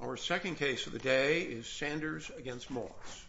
Our second case of the day is Sanders v. Moss.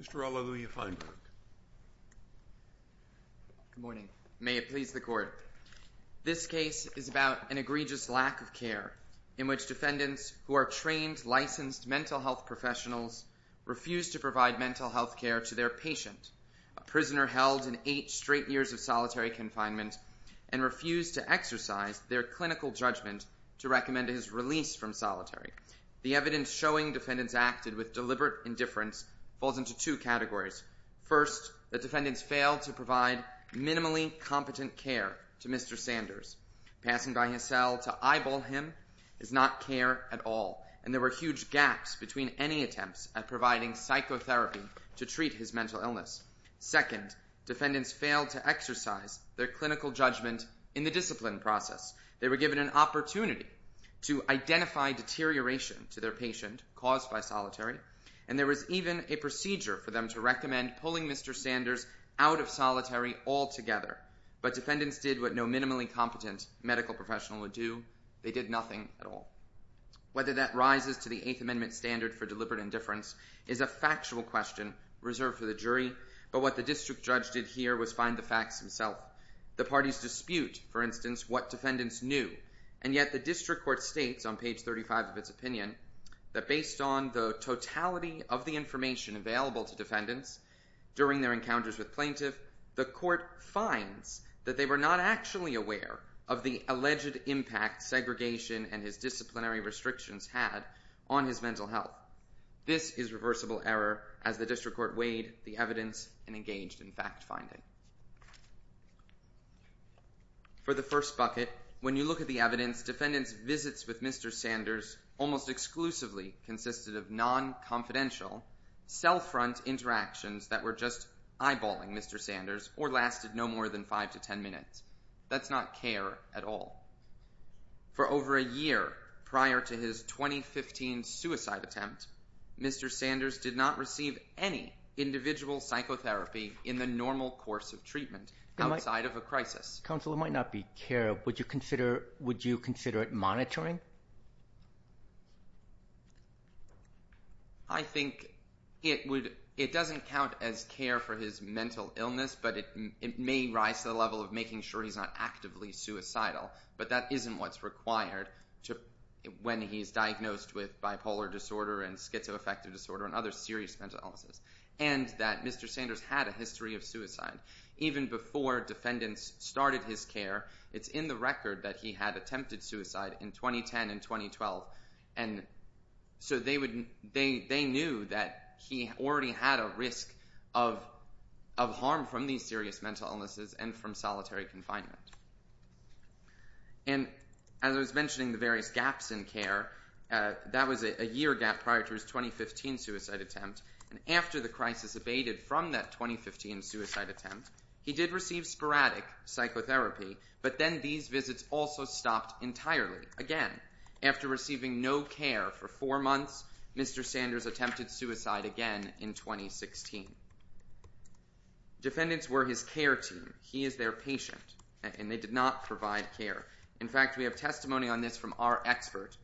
Mr. Alleluia-Feinberg Good morning. May it please the court. This case is about an egregious lack of care in which defendants who are trained, licensed mental health professionals refuse to provide mental health care to their patient, a prisoner held in eight straight years of solitary confinement, and refuse to exercise their clinical judgment to recommend his release from solitary. The evidence showing defendants acted with deliberate indifference falls into two categories. First, the defendants failed to provide minimally competent care to Mr. Sanders. Passing by his cell to eyeball him is not care at all, and there were huge gaps between any attempts at providing psychotherapy to treat his mental illness. Second, defendants failed to exercise their clinical judgment in the discipline process. They were given an opportunity to identify deterioration to their patient caused by solitary, and there was even a procedure for them to recommend pulling Mr. Sanders out of solitary altogether, but defendants did what no minimally competent medical professional would do. They did nothing at all. Whether that rises to the Eighth Amendment standard for deliberate indifference is a factual question reserved for the jury, but what the district judge did here was find the facts himself. The parties dispute, for instance, what defendants knew, and yet the district court states on page 35 of its opinion that based on the totality of the information available to defendants during their encounters with plaintiff, the court finds that they were not actually aware of the alleged impact segregation and his disciplinary restrictions had on his mental health. This is reversible error as the district court weighed the evidence and engaged in fact-finding. For the first bucket, when you look at the evidence, defendants' visits with Mr. Sanders almost exclusively consisted of non-confidential, self-front interactions that were just eyeballing Mr. Sanders or lasted no more than five to ten minutes. That's not care at all. For over a year prior to his 2015 suicide attempt, Mr. Sanders did not receive any individual psychotherapy in the normal course of treatment outside of a crisis. Counsel, it might not be care. Would you consider it monitoring? I think it doesn't count as care for his mental illness, but it may rise to the level of making sure he's not actively suicidal, but that isn't what's required when he's diagnosed with bipolar disorder and schizoaffective disorder and other serious mental illnesses. And that Mr. Sanders had a history of suicide. Even before defendants started his care, it's in the record that he had attempted suicide in 2010 and 2012, and so they knew that he already had a risk of harm from these serious mental illnesses and from solitary confinement. And as I was mentioning the various gaps in care, that was a year gap prior to his 2015 suicide attempt, and after the crisis abated from that 2015 suicide attempt, he did receive sporadic psychotherapy, but then these visits also stopped entirely again. After receiving no care for four months, Mr. Sanders attempted suicide again in 2016. Defendants were his care team. He is their patient, and they did not provide care. In fact, we have testimony on this from our expert,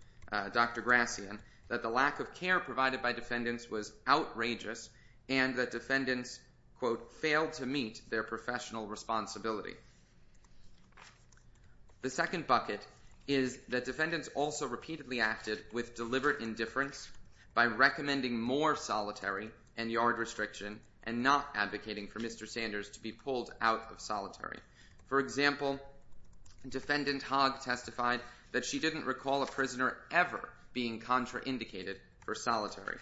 Dr. Grassian, that the lack of care provided by defendants was outrageous and that defendants, quote, failed to meet their professional responsibility. The second bucket is that defendants also repeatedly acted with deliberate indifference by recommending more solitary and yard restriction and not advocating for Mr. Sanders to be pulled out of solitary. For example, Defendant Hogg testified that she didn't recall a prisoner ever being contraindicated for solitary,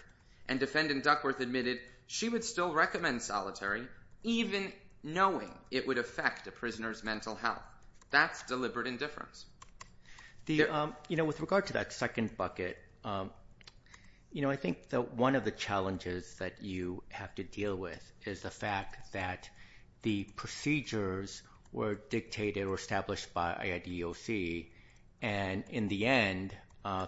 and Defendant Duckworth admitted she would still recommend solitary even knowing it would affect a prisoner's mental health. That's deliberate indifference. With regard to that second bucket, I think that one of the challenges that you have to deal with is the fact that the procedures were dictated or established by IDEOC, and in the end,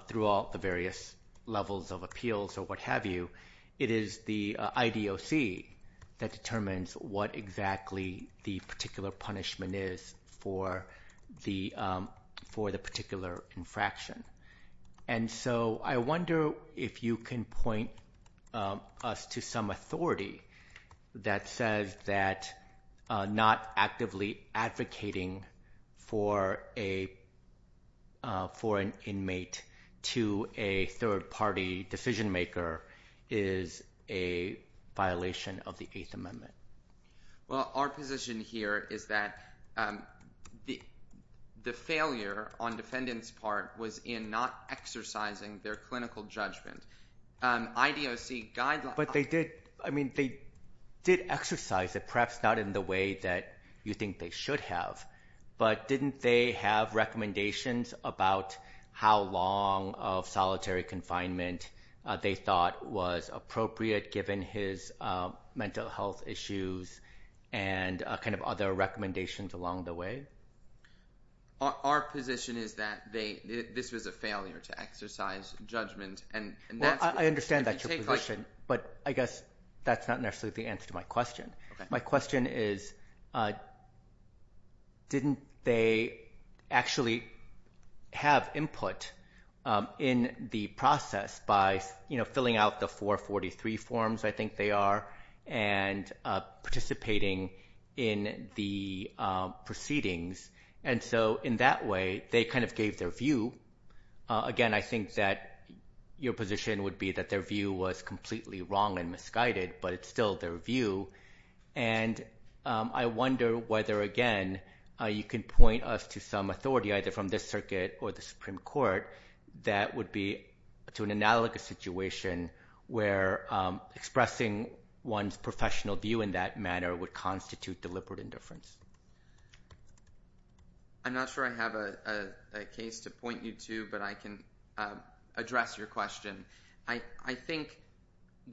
through all the various levels of appeals or what have you, it is the IDEOC that determines what exactly the particular punishment is for the particular infraction. I wonder if you can point us to some authority that says that not actively advocating for an inmate to a third-party decision-maker is a violation of the Eighth Amendment. Well, our position here is that the failure on defendants' part was in not exercising their clinical judgment. But they did exercise it, perhaps not in the way that you think they should have, but didn't they have recommendations about how long of solitary confinement they thought was appropriate given his mental health issues and other recommendations along the way? Our position is that this was a failure to exercise judgment. I understand that's your position, but I guess that's not necessarily the answer to my question. My question is, didn't they actually have input in the process by filling out the 443 forms, I think they are, and participating in the proceedings? And so in that way, they kind of gave their view. Again, I think that your position would be that their view was completely wrong and misguided, but it's still their view. And I wonder whether, again, you can point us to some authority, either from this circuit or the Supreme Court, that would be to an analogous situation where expressing one's professional view in that manner would constitute deliberate indifference. I'm not sure I have a case to point you to, but I can address your question. I think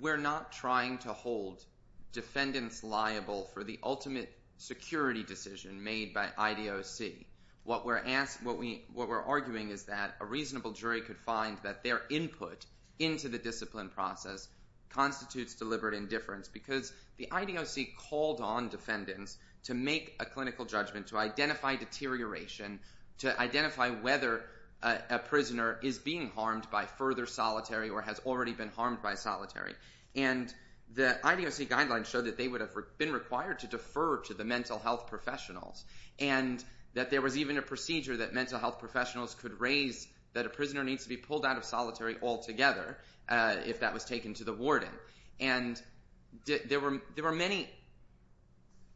we're not trying to hold defendants liable for the ultimate security decision made by IDOC. What we're arguing is that a reasonable jury could find that their input into the discipline process constitutes deliberate indifference because the IDOC called on defendants to make a clinical judgment, to identify deterioration, to identify whether a prisoner is being harmed by further solitary or has already been harmed by solitary. And the IDOC guidelines show that they would have been required to defer to the mental health professionals, and that there was even a procedure that mental health professionals could raise that a prisoner needs to be pulled out of solitary altogether if that was taken to the warden. And there were many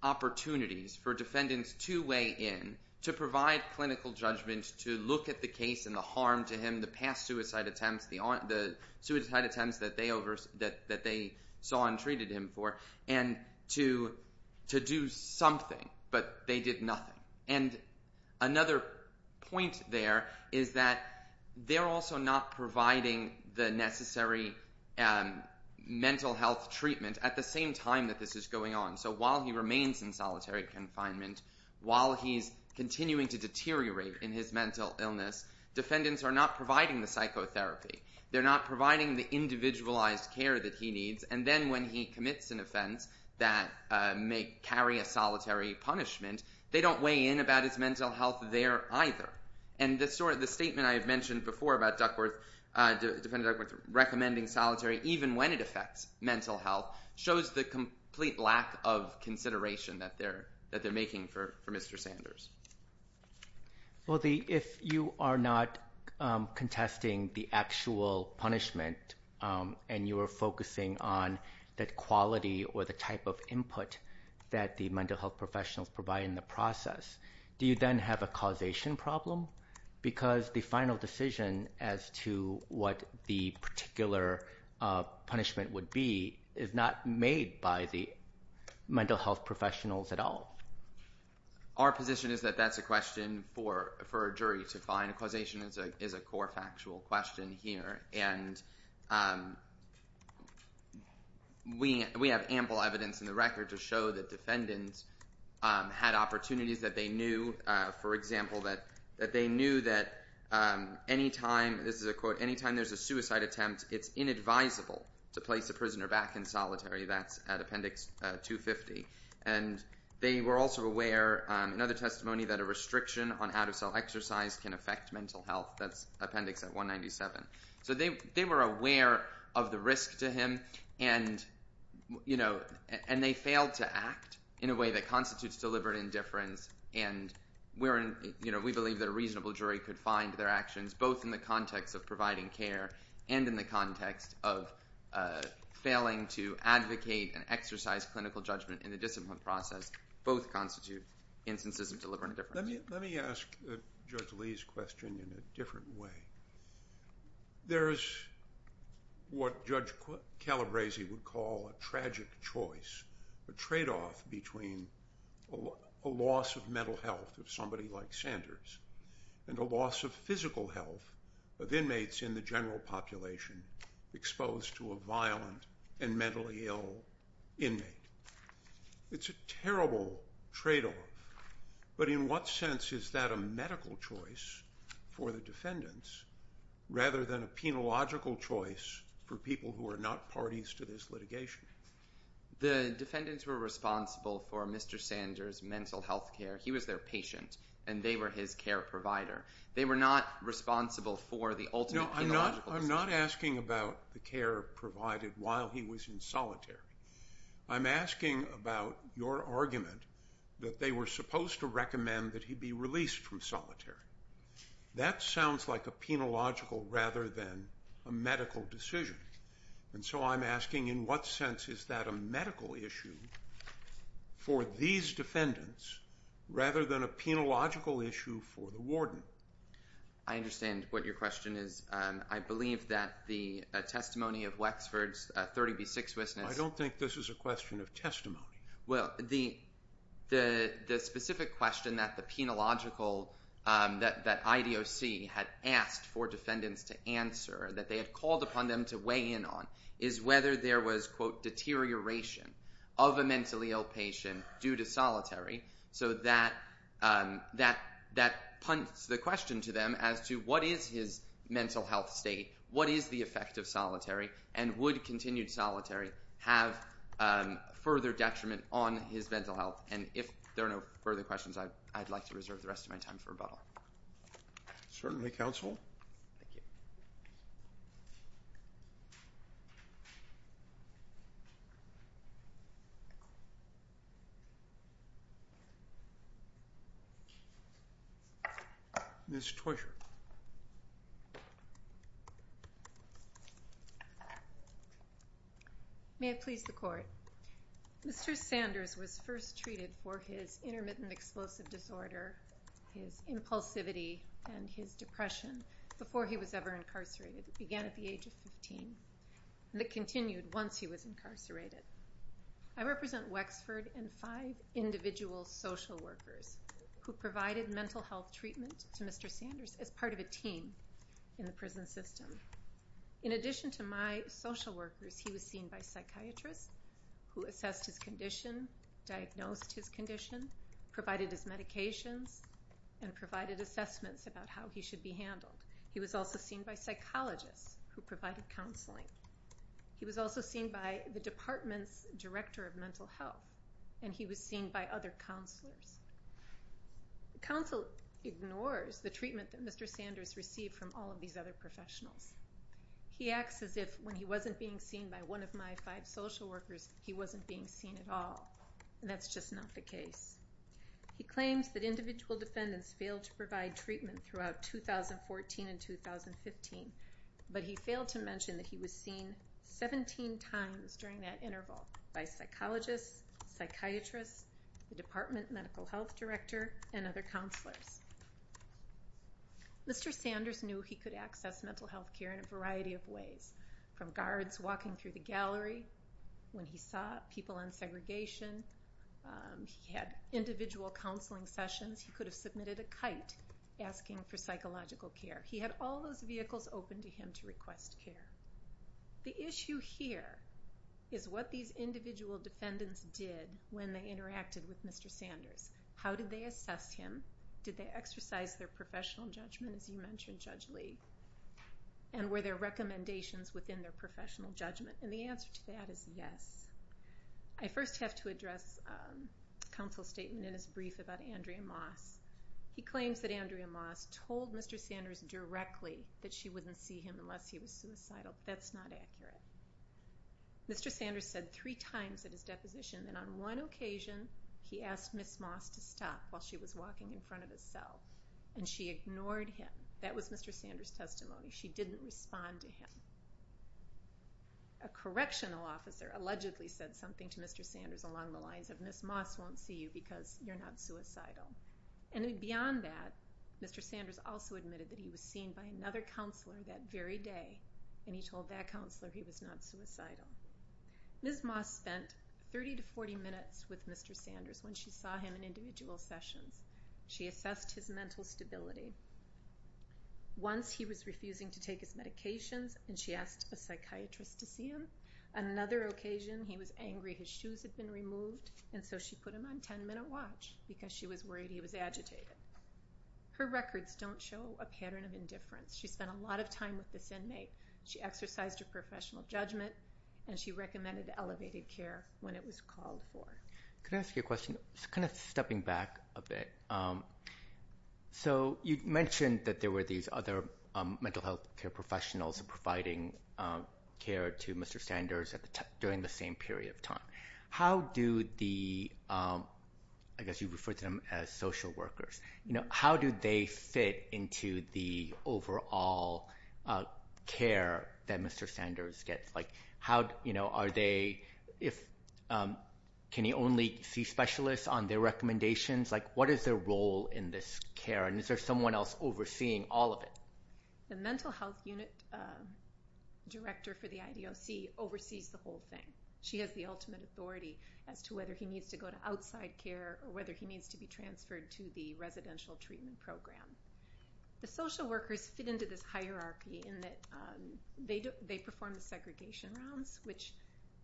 opportunities for defendants to weigh in, to provide clinical judgment, to look at the case and the harm to him, the past suicide attempts, the suicide attempts that they saw and treated him for, and to do something. But they did nothing. And another point there is that they're also not providing the necessary mental health treatment at the same time that this is going on. So while he remains in solitary confinement, while he's continuing to deteriorate in his mental illness, defendants are not providing the psychotherapy. They're not providing the individualized care that he needs. And then when he commits an offense that may carry a solitary punishment, they don't weigh in about his mental health there either. And the statement I had mentioned before about Defendant Duckworth recommending solitary even when it affects mental health shows the complete lack of consideration that they're making for Mr. Sanders. Well, if you are not contesting the actual punishment and you are focusing on that quality or the type of input that the mental health professionals provide in the process, do you then have a causation problem? Because the final decision as to what the particular punishment would be is not made by the mental health professionals at all. Our position is that that's a question for a jury to find. Causation is a core factual question here. And we have ample evidence in the record to show that defendants had opportunities that they knew, for example, that they knew that any time, this is a quote, any time there's a suicide attempt, it's inadvisable to place a prisoner back in solitary. That's at Appendix 250. And they were also aware, another testimony, that a restriction on out-of-cell exercise can affect mental health. That's Appendix 197. So they were aware of the risk to him and they failed to act in a way that constitutes deliberate indifference. And we believe that a reasonable jury could find their actions, both in the context of providing care and in the context of failing to advocate and exercise clinical judgment in the discipline process, both constitute instances of deliberate indifference. Let me ask Judge Lee's question in a different way. There is what Judge Calabresi would call a tragic choice, a trade-off between a loss of mental health of somebody like Sanders and a loss of physical health of inmates in the general population exposed to a violent and mentally ill inmate. It's a terrible trade-off. But in what sense is that a medical choice for the defendants rather than a penological choice for people who are not parties to this litigation? The defendants were responsible for Mr. Sanders' mental health care. He was their patient and they were his care provider. They were not responsible for the ultimate penological decision. I'm not asking about the care provided while he was in solitary. I'm asking about your argument that they were supposed to recommend that he be released from solitary. That sounds like a penological rather than a medical decision. And so I'm asking, in what sense is that a medical issue for these defendants rather than a penological issue for the warden? I understand what your question is. I believe that the testimony of Wexford's 30b6 witness— No, I don't think this is a question of testimony. Well, the specific question that the penological—that IDOC had asked for defendants to answer, that they had called upon them to weigh in on, is whether there was, quote, deterioration of a mentally ill patient due to solitary. So that punts the question to them as to what is his mental health state, what is the effect of solitary, and would continued solitary have further detriment on his mental health? And if there are no further questions, I'd like to reserve the rest of my time for rebuttal. Certainly, counsel. Thank you. Ms. Toysher. May it please the court. Mr. Sanders was first treated for his intermittent explosive disorder, his impulsivity, and his depression before he was ever incarcerated. It began at the age of 15, and it continued once he was incarcerated. I represent Wexford and five individual social workers who provided mental health treatment to Mr. Sanders as part of a team in the prison system. In addition to my social workers, he was seen by psychiatrists who assessed his condition, diagnosed his condition, provided his medications, and provided assessments about how he should be handled. He was also seen by psychologists who provided counseling. He was also seen by the department's director of mental health, and he was seen by other counselors. Counsel ignores the treatment that Mr. Sanders received from all of these other professionals. He acts as if when he wasn't being seen by one of my five social workers, he wasn't being seen at all, and that's just not the case. He claims that individual defendants failed to provide treatment throughout 2014 and 2015, but he failed to mention that he was seen 17 times during that interval by psychologists, psychiatrists, the department medical health director, and other counselors. Mr. Sanders knew he could access mental health care in a variety of ways, from guards walking through the gallery when he saw people in segregation. He had individual counseling sessions. He could have submitted a kite asking for psychological care. He had all those vehicles open to him to request care. The issue here is what these individual defendants did when they interacted with Mr. Sanders. How did they assess him? Did they exercise their professional judgment, as you mentioned, Judge Lee? And were there recommendations within their professional judgment? And the answer to that is yes. I first have to address Counsel Staten in his brief about Andrea Moss. He claims that Andrea Moss told Mr. Sanders directly that she wouldn't see him unless he was suicidal. That's not accurate. Mr. Sanders said three times at his deposition that on one occasion he asked Ms. Moss to stop while she was walking in front of his cell, and she ignored him. That was Mr. Sanders' testimony. She didn't respond to him. A correctional officer allegedly said something to Mr. Sanders along the lines of, Ms. Moss won't see you because you're not suicidal. And beyond that, Mr. Sanders also admitted that he was seen by another counselor that very day, and he told that counselor he was not suicidal. Ms. Moss spent 30 to 40 minutes with Mr. Sanders when she saw him in individual sessions. She assessed his mental stability. Once he was refusing to take his medications, and she asked a psychiatrist to see him. Another occasion he was angry his shoes had been removed, and so she put him on 10-minute watch because she was worried he was agitated. Her records don't show a pattern of indifference. She spent a lot of time with this inmate. She exercised her professional judgment, and she recommended elevated care when it was called for. Could I ask you a question? Just kind of stepping back a bit. So you mentioned that there were these other mental health care professionals providing care to Mr. Sanders during the same period of time. How do the, I guess you referred to them as social workers, you know, how do they fit into the overall care that Mr. Sanders gets? Are they, can he only see specialists on their recommendations? What is their role in this care, and is there someone else overseeing all of it? The mental health unit director for the IDOC oversees the whole thing. She has the ultimate authority as to whether he needs to go to outside care or whether he needs to be transferred to the residential treatment program. The social workers fit into this hierarchy in that they perform the segregation rounds, which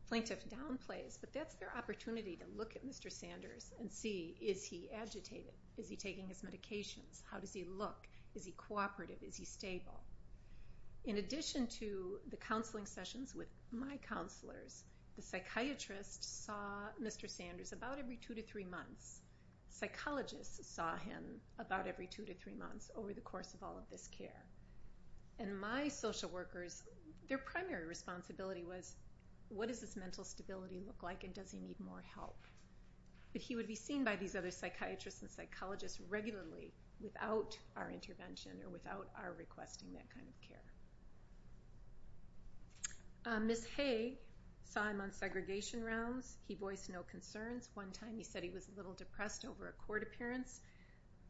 plaintiff downplays, but that's their opportunity to look at Mr. Sanders and see is he agitated? Is he taking his medications? How does he look? Is he cooperative? Is he stable? In addition to the counseling sessions with my counselors, the psychiatrist saw Mr. Sanders about every two to three months. Psychologists saw him about every two to three months over the course of all of this care. And my social workers, their primary responsibility was what does this mental stability look like and does he need more help? But he would be seen by these other psychiatrists and psychologists regularly without our intervention or without our requesting that kind of care. Ms. Hay saw him on segregation rounds. He voiced no concerns. One time he said he was a little depressed over a court appearance,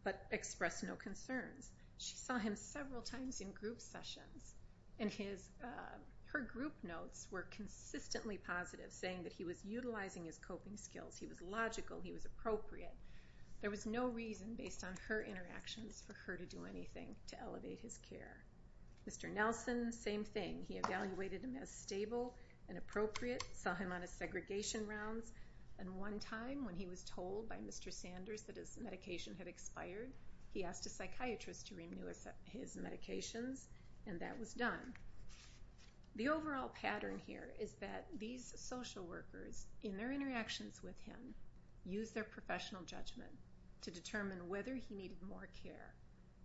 but expressed no concerns. She saw him several times in group sessions, and her group notes were consistently positive, saying that he was utilizing his coping skills. He was logical. He was appropriate. There was no reason, based on her interactions, for her to do anything to elevate his care. Mr. Nelson, same thing. He evaluated him as stable and appropriate, saw him on his segregation rounds, and one time when he was told by Mr. Sanders that his medication had expired, he asked a psychiatrist to renew his medications, and that was done. The overall pattern here is that these social workers, in their interactions with him, used their professional judgment to determine whether he needed more care,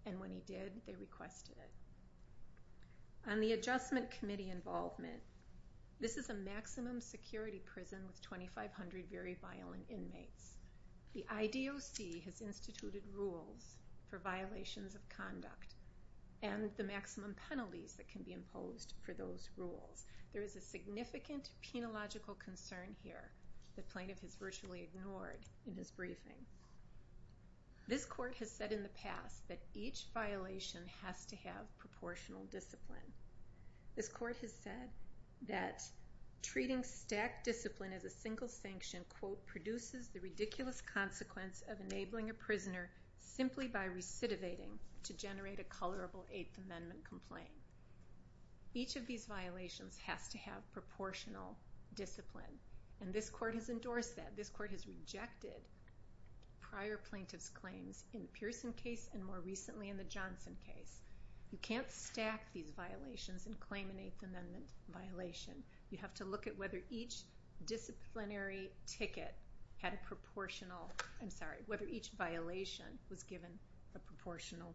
and when he did, they requested it. On the adjustment committee involvement, this is a maximum security prison with 2,500 very violent inmates. The IDOC has instituted rules for violations of conduct and the maximum penalties that can be imposed for those rules. There is a significant penological concern here that plaintiff has virtually ignored in his briefing. This court has said in the past that each violation has to have proportional discipline. This court has said that treating stacked discipline as a single sanction produces the ridiculous consequence of enabling a prisoner simply by recidivating to generate a colorable Eighth Amendment complaint. Each of these violations has to have proportional discipline, and this court has endorsed that. This court has rejected prior plaintiff's claims in the Pearson case and more recently in the Johnson case. You can't stack these violations and claim an Eighth Amendment violation. You have to look at whether each disciplinary ticket had a proportional, I'm sorry, whether each violation was given a proportional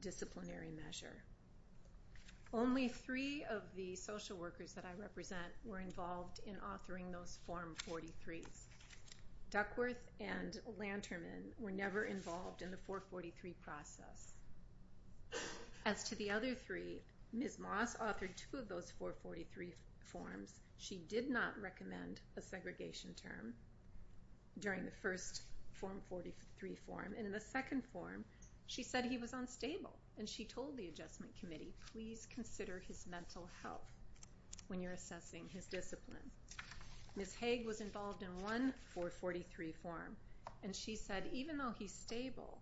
disciplinary measure. Only three of the social workers that I represent were involved in authoring those Form 43s. Duckworth and Lanterman were never involved in the 443 process. As to the other three, Ms. Moss authored two of those 443 forms. She did not recommend a segregation term during the first Form 43 form, and in the second form she said he was unstable, and she told the Adjustment Committee, please consider his mental health when you're assessing his discipline. Ms. Haig was involved in one 443 form, and she said, even though he's stable,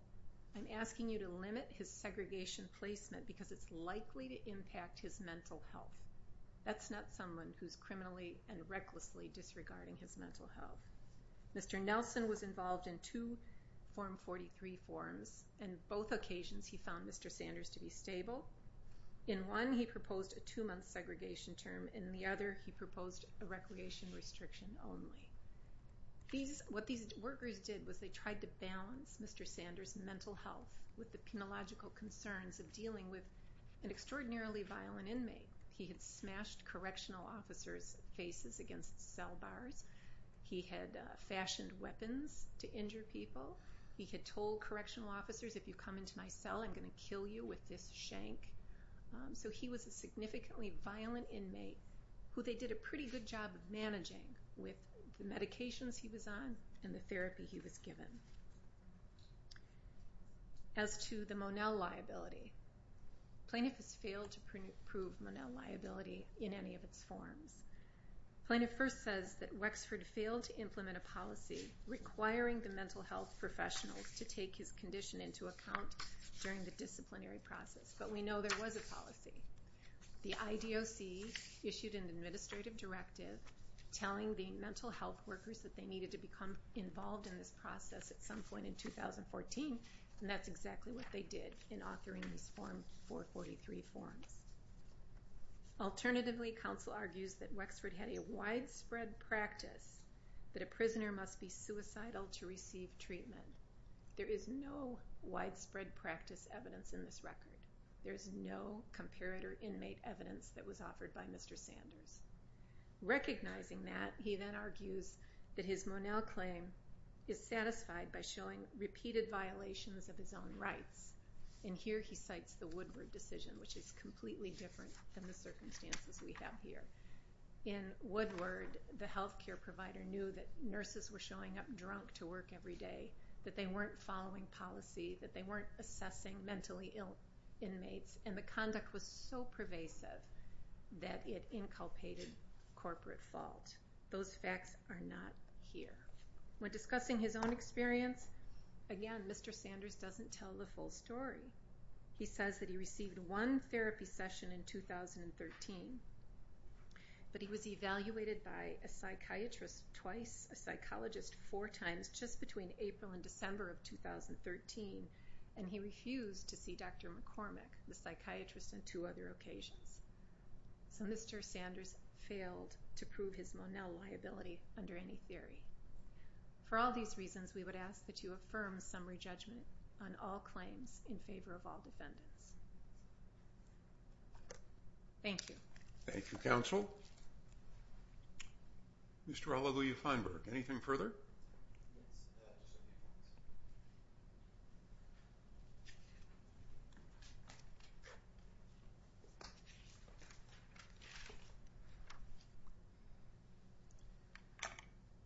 I'm asking you to limit his segregation placement because it's likely to impact his mental health. That's not someone who's criminally and recklessly disregarding his mental health. Mr. Nelson was involved in two Form 43 forms, and both occasions he found Mr. Sanders to be stable. In one he proposed a two-month segregation term, and in the other he proposed a recreation restriction only. What these workers did was they tried to balance Mr. Sanders' mental health with the penological concerns of dealing with an extraordinarily violent inmate. He had smashed correctional officers' faces against cell bars. He had fashioned weapons to injure people. He had told correctional officers, if you come into my cell I'm going to kill you with this shank. So he was a significantly violent inmate, who they did a pretty good job of managing with the medications he was on and the therapy he was given. As to the Monell liability, plaintiff has failed to prove Monell liability in any of its forms. Plaintiff first says that Wexford failed to implement a policy requiring the mental health professionals to take his condition into account during the disciplinary process, but we know there was a policy. The IDOC issued an administrative directive telling the mental health workers that they needed to become involved in this process at some point in 2014, and that's exactly what they did in authoring these Form 443 forms. Alternatively, counsel argues that Wexford had a widespread practice that a prisoner must be suicidal to receive treatment. There is no widespread practice evidence in this record. There is no comparator inmate evidence that was offered by Mr. Sanders. Recognizing that, he then argues that his Monell claim is satisfied by showing repeated violations of his own rights, and here he cites the Woodward decision, which is completely different than the circumstances we have here. In Woodward, the health care provider knew that nurses were showing up drunk to work every day, that they weren't following policy, that they weren't assessing mentally ill inmates, and the conduct was so pervasive that it inculpated corporate fault. Those facts are not here. When discussing his own experience, again, Mr. Sanders doesn't tell the full story. He says that he received one therapy session in 2013, but he was evaluated by a psychiatrist twice, a psychologist four times just between April and December of 2013, and he refused to see Dr. McCormick, the psychiatrist, on two other occasions. So Mr. Sanders failed to prove his Monell liability under any theory. For all these reasons, we would ask that you affirm summary judgment on all claims in favor of all defendants. Thank you. Thank you, counsel. Mr. Oliver U. Feinberg, anything further?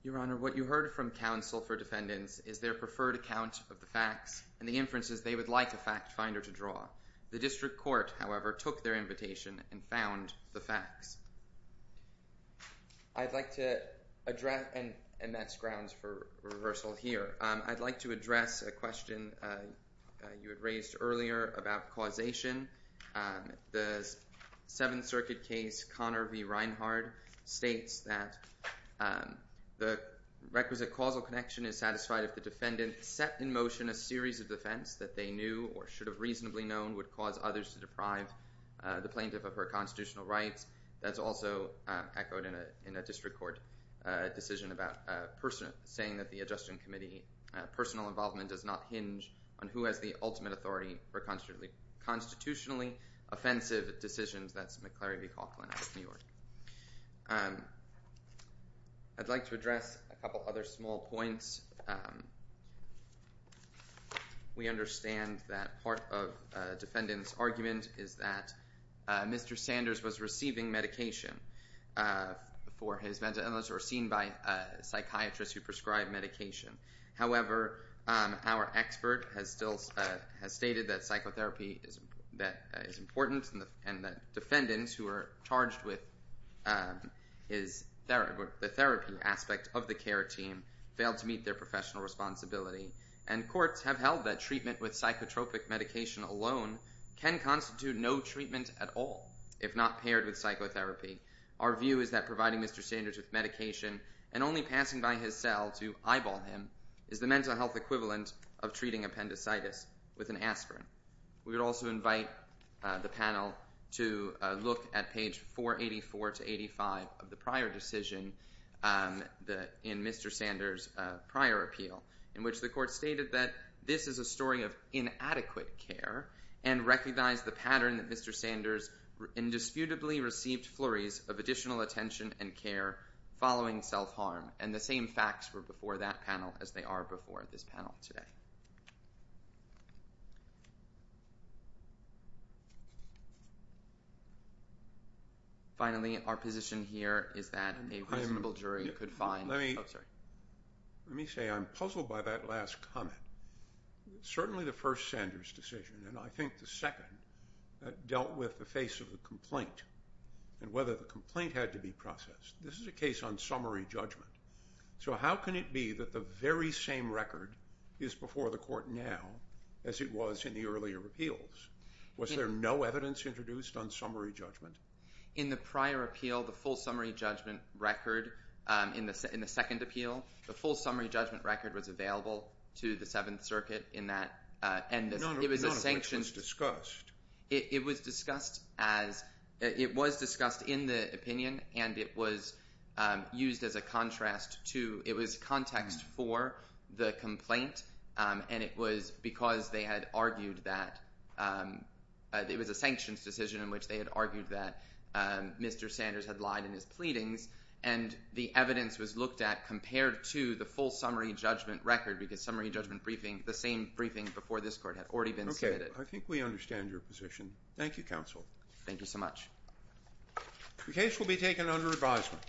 Your Honor, what you heard from counsel for defendants is their preferred account of the facts and the inferences they would like a fact finder to draw. The district court, however, took their invitation and found the facts. I'd like to address, and that's grounded in the fact I'd like to address a question you had raised earlier about causation. The Seventh Circuit case, Connor v. Reinhard, states that the requisite causal connection is satisfied if the defendant set in motion a series of defense that they knew or should have reasonably known would cause others to deprive the plaintiff of her constitutional rights. That's also echoed in a district court decision about saying that the Adjustment Committee personal involvement does not hinge on who has the ultimate authority for constitutionally offensive decisions. That's McCleary v. Coughlin out of New York. I'd like to address a couple other small points. We understand that part of a defendant's argument is that Mr. Sanders was receiving medication for his mental illness or seen by a psychiatrist who prescribed medication. However, our expert has stated that psychotherapy is important and that defendants who are charged with the therapy aspect of the care team failed to meet their professional responsibility. And courts have held that treatment with psychotropic medication alone can constitute no treatment at all if not paired with psychotherapy. Our view is that providing Mr. Sanders with medication and only passing by his cell to eyeball him is the mental health equivalent of treating appendicitis with an aspirin. We would also invite the panel to look at page 484 to 85 of the prior decision in Mr. Sanders' prior appeal in which the court stated that this is a story of inadequate care and recognize the pattern that Mr. Sanders indisputably received flurries of additional attention and care following self-harm. And the same facts were before that panel as they are before this panel today. Finally, our position here is that a reasonable jury could find... Let me say I'm puzzled by that last comment. Certainly the first Sanders decision and I think the second dealt with the face of the complaint and whether the complaint had to be processed. This is a case on summary judgment. So how can it be that the very same record is before the court now as it was in the earlier appeals? Was there no evidence introduced on summary judgment? In the prior appeal, the full summary judgment record in the second appeal, the full summary judgment record was available to the Seventh Circuit in that... None of which was discussed. It was discussed as... It was discussed in the opinion and it was used as a contrast to... It was context for the complaint and it was because they had argued that... It was a sanctions decision in which they had argued that Mr. Sanders had lied in his pleadings and the evidence was looked at compared to the full summary judgment record because summary judgment briefing, the same briefing before this court, had already been submitted. Okay. I think we understand your position. Thank you, counsel. Thank you so much. The case will be taken under advisement.